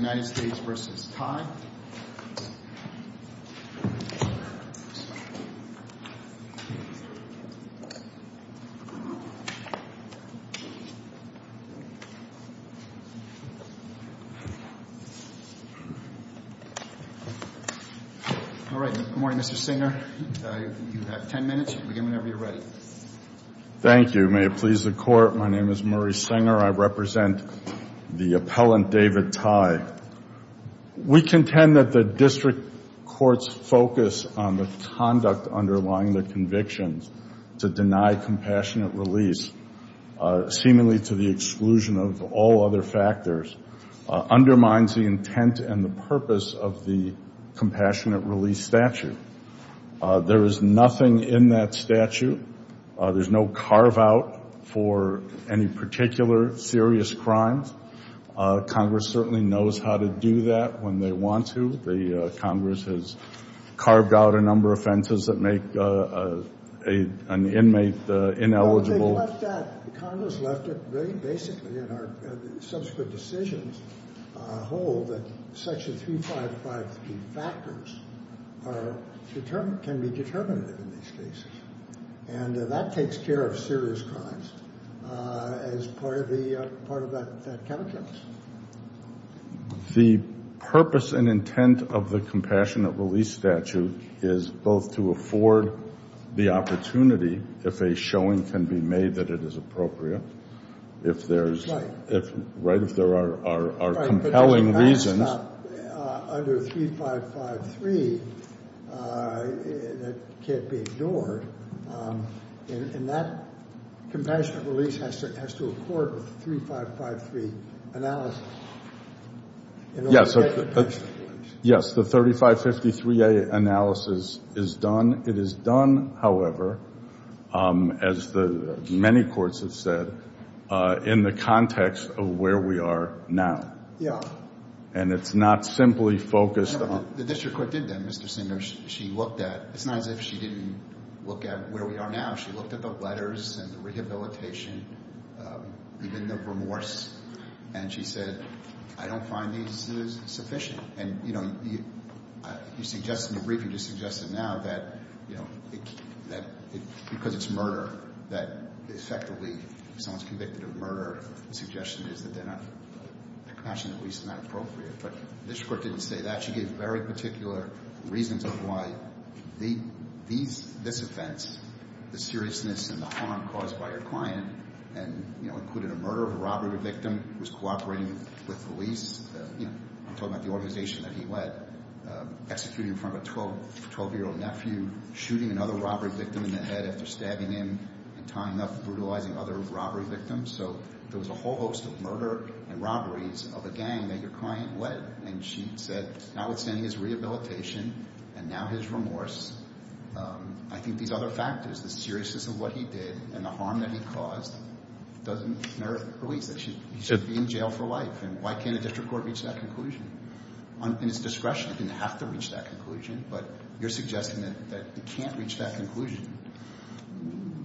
Good morning, Mr. Singer. You have 10 minutes. Begin whenever you're ready. Thank you. May it please the Court, my name is Murray Singer. I represent the appellant David Thai. We contend that the district court's focus on the conduct underlying the convictions to deny compassionate release, seemingly to the exclusion of all other factors, undermines the intent and the purpose of the compassionate release statute. There is nothing in that to do that when they want to. The Congress has carved out a number of offenses that make an inmate ineligible. No, they left that, Congress left it very basically in our subsequent decisions, hold that section 355 factors are determined, can be determinative in these cases. And that takes care of serious crimes as part of that calculus. The purpose and intent of the compassionate release statute is both to afford the opportunity, if a showing can be made that it is appropriate, if there's, right, if there are compelling reasons, under 3553, that can't be ignored. And that compassionate release has to accord with the 3553 analysis. Yes, the 3553A analysis is done. It is done, however, as the many courts have said, in the context of where we are now. Yeah. And it's not simply focused on... The district court did that, Mr. Singer. She looked at, it's not as if she didn't look at where we are now. She looked at the letters and the rehabilitation, even the remorse, and she said, I don't find these sufficient. And, you know, you suggested in the briefing, you know, that effectively, if someone's convicted of murder, the suggestion is that they're not, the compassionate release is not appropriate. But the district court didn't say that. She gave very particular reasons of why these, this offense, the seriousness and the harm caused by your client, and, you know, included a murder of a robbery victim who was cooperating with police, you know, I'm talking about the organization that he led, executing in front of a 12-year-old nephew, shooting another robbery victim in the head after stabbing him and tying up, brutalizing other robbery victims. So there was a whole host of murder and robberies of a gang that your client led. And she said, notwithstanding his rehabilitation and now his remorse, I think these other factors, the seriousness of what he did and the harm that he caused, doesn't merit release. He should be in jail for life. And why can't a district court reach that conclusion? In its discretion, it didn't have to reach that conclusion. But you're suggesting that it can't reach that conclusion?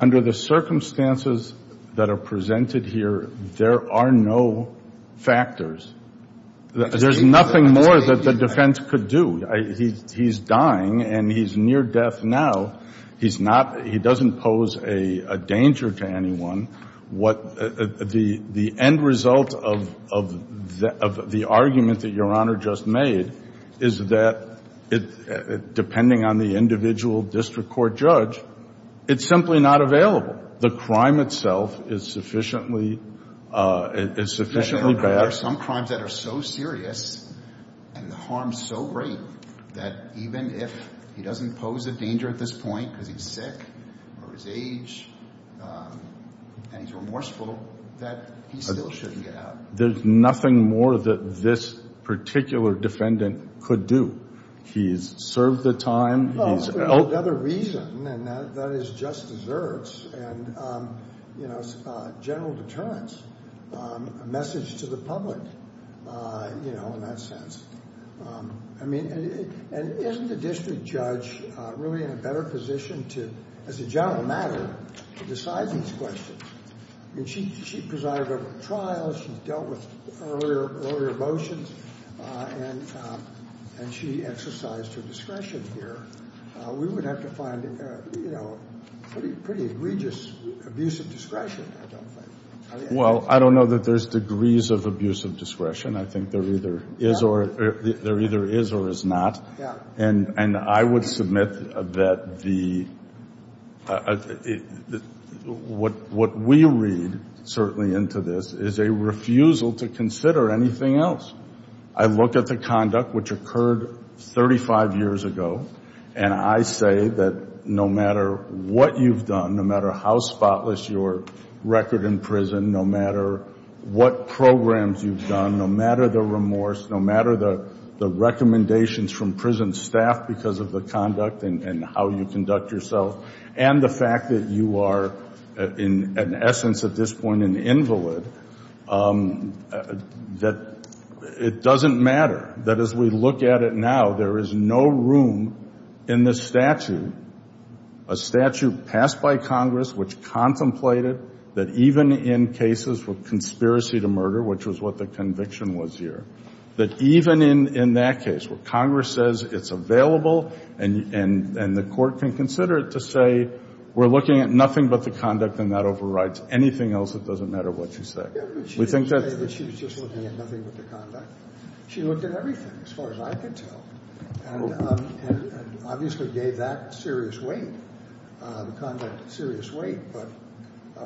Under the circumstances that are presented here, there are no factors. There's nothing more that the defense could do. He's dying and he's near death now. He's not, he doesn't pose a danger to anyone. What, the end result of the argument that your Honor just made is that depending on the individual district court judge, it's simply not available. The crime itself is sufficiently, is sufficiently bad. There are some crimes that are so serious and the harm is so great that even if he doesn't pose a danger at this point because he's sick or his age and he's remorseful, that he still shouldn't get out. There's nothing more that this particular defendant could do. He's served the time, he's... Well, there's another reason and that is just deserts and, you know, general deterrence, a message to the public, you know, in that sense. I mean, and isn't the district judge really in a better position to, as a general matter, to decide these questions? I mean, she presided over the trials, she's dealt with earlier motions, and she exercised her discretion here. We would have to find, you know, pretty egregious abuse of discretion, I don't think. Well, I don't know that there's degrees of abuse of discretion. I think there either is or is not. And I would submit that the... What we read, certainly, into this is a refusal to consider anything else. I look at the conduct which occurred 35 years ago, and I say that no matter what you've done, no matter how spotless your record in prison, no matter what programs you've done, no matter the remorse, no matter the recommendations from prison staff because of the conduct and how you conduct yourself, and the fact that you are, in essence at this point, an invalid, that it doesn't matter. That as we look at it now, there is no room in this statute, a statute passed by Congress which contemplated that even in cases with conspiracy to murder, which was what the conviction was here, that even in that case, where Congress says it's available and the court can consider it to say we're looking at nothing but the conduct and that overrides anything else, it doesn't matter what you say. We think that...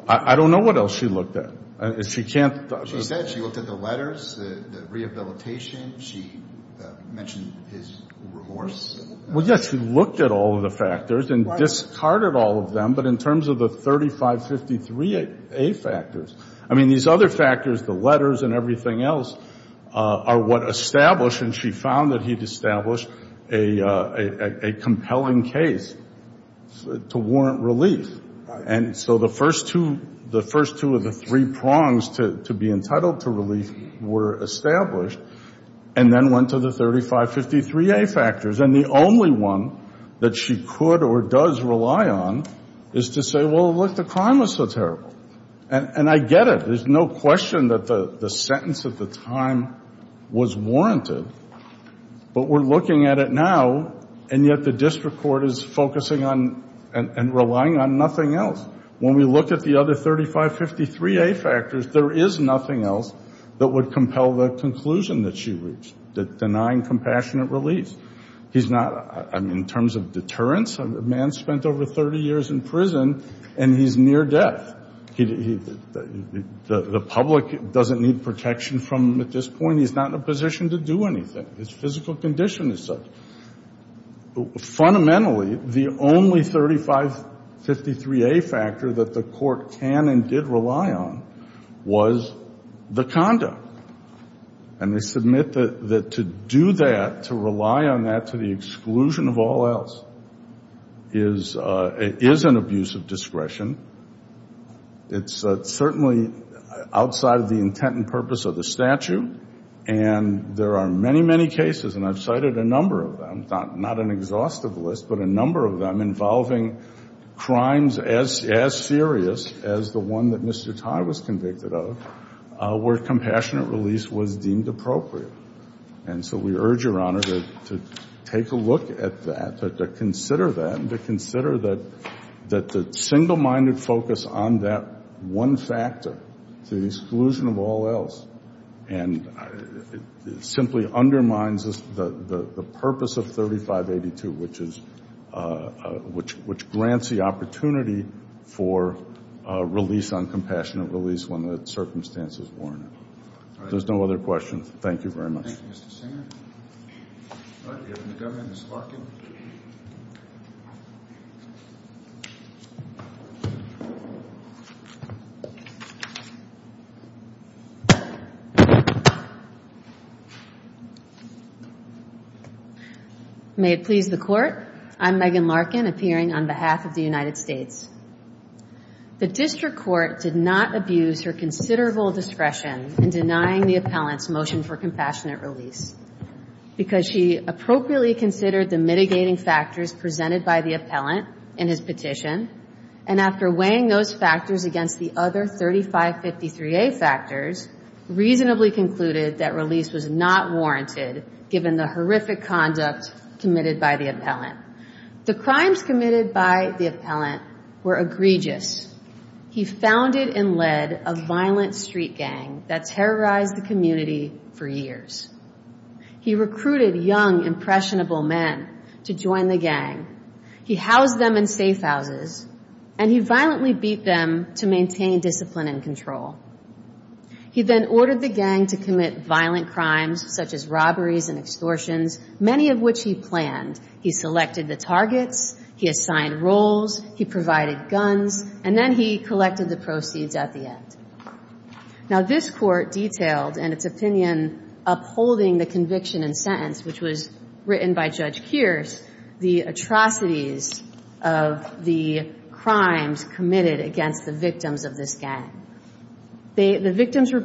I don't know what else she looked at. She can't... She said she looked at the letters, the rehabilitation. She mentioned his remorse. Well, yes, she looked at all of the factors and discarded all of them, but in terms of the 3553A factors, I mean, these other factors, the letters and everything else, are what established and she found that he'd established a compelling case to warrant relief. And so the first two of the three prongs to be entitled to relief were established and then went to the 3553A factors. And the only one that she could or does rely on is to say, well, look, the crime was so terrible. And I get it. There's no question that the sentence at the time was warranted, but we're looking at it now, and yet the district court is focusing on and relying on nothing else. When we look at the other 3553A factors, there is nothing else that would compel the conclusion that she reached, that denying compassionate relief. He's not, I mean, in terms of deterrence, a man spent over 30 years in prison and he's near death. The public doesn't need protection from him at this point. He's not in a position to do anything. His physical condition is such. Fundamentally, the only 3553A factor that the court can and did rely on was the conduct. And they submit that to do that, to rely on that to the exclusion of all else, is an abuse of discretion. It's certainly outside of the intent and purpose of the statute. And there are many, many cases, and I've cited a number of them, not an exhaustive list, but a number of them involving crimes as serious as the one that Mr. Tye was convicted of, where compassionate release was deemed appropriate. And so we urge Your Honor to take a look at that, to consider that, and to consider that the single-minded focus on that one factor to the exclusion of all else, and it simply undermines the purpose of 3582, which grants the opportunity for release on compassionate release when the circumstances warrant it. If there's no other questions, thank you very much. Thank you, Mr. Singer. All right, we open the government, Ms. Larkin. May it please the Court, I'm Megan Larkin, appearing on behalf of the United States. The district court did not abuse her considerable discretion in denying the appellant's motion for compassionate release, because she appropriately considered the mitigating factors presented by the appellant in his petition, and after weighing those factors against the other 3553A factors, reasonably concluded that release was not warranted, given the horrific conduct committed by the appellant. The crimes committed by the appellant were egregious. He founded and led a violent street gang that terrorized the community for years. He recruited young impressionable men to join the gang. He housed them in safe houses, and he violently beat them to maintain discipline and control. He then ordered the gang to commit violent crimes, such as robberies and extortions, many of which he planned. He selected the targets, he assigned roles, he provided guns, and then he collected the proceeds at the end. Now, this Court detailed in its opinion upholding the conviction and sentence, which was written by Judge Kearse, the atrocities of the crimes committed against the victims of this gang. The victims were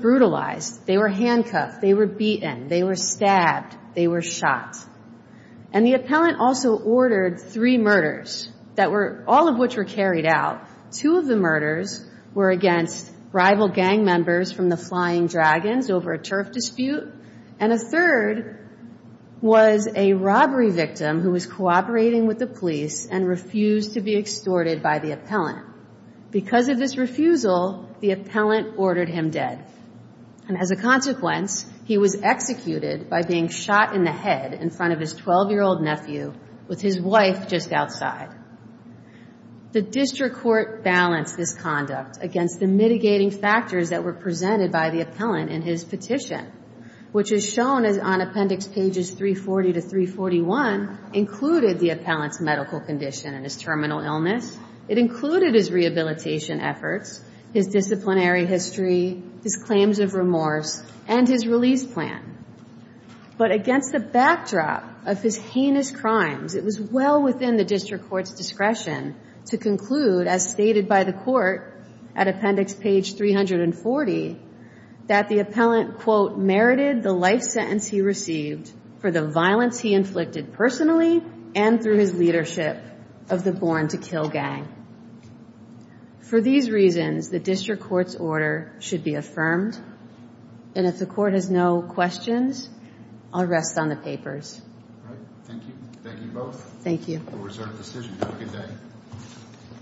shot, and the appellant also ordered three murders, all of which were carried out. Two of the murders were against rival gang members from the Flying Dragons over a turf dispute, and a third was a robbery victim who was cooperating with the police and refused to be extorted by the appellant. Because of this refusal, the appellant ordered him dead. And as a consequence, he was executed by being shot in the head in front of his 12-year-old nephew with his wife just outside. The District Court balanced this conduct against the mitigating factors that were presented by the appellant in his petition, which is shown on appendix pages 340 to 341, included the appellant's medical condition and his history, his claims of remorse, and his release plan. But against the backdrop of his heinous crimes, it was well within the District Court's discretion to conclude, as stated by the Court at appendix page 340, that the appellant, quote, merited the life sentence he received for the violence he inflicted personally and through his leadership of the Born to Kill Gang. For these reasons, the District Court's order should be affirmed. And if the Court has no questions, I'll rest on the papers. Thank you. Thank you both. We'll reserve the decision. Have a good day.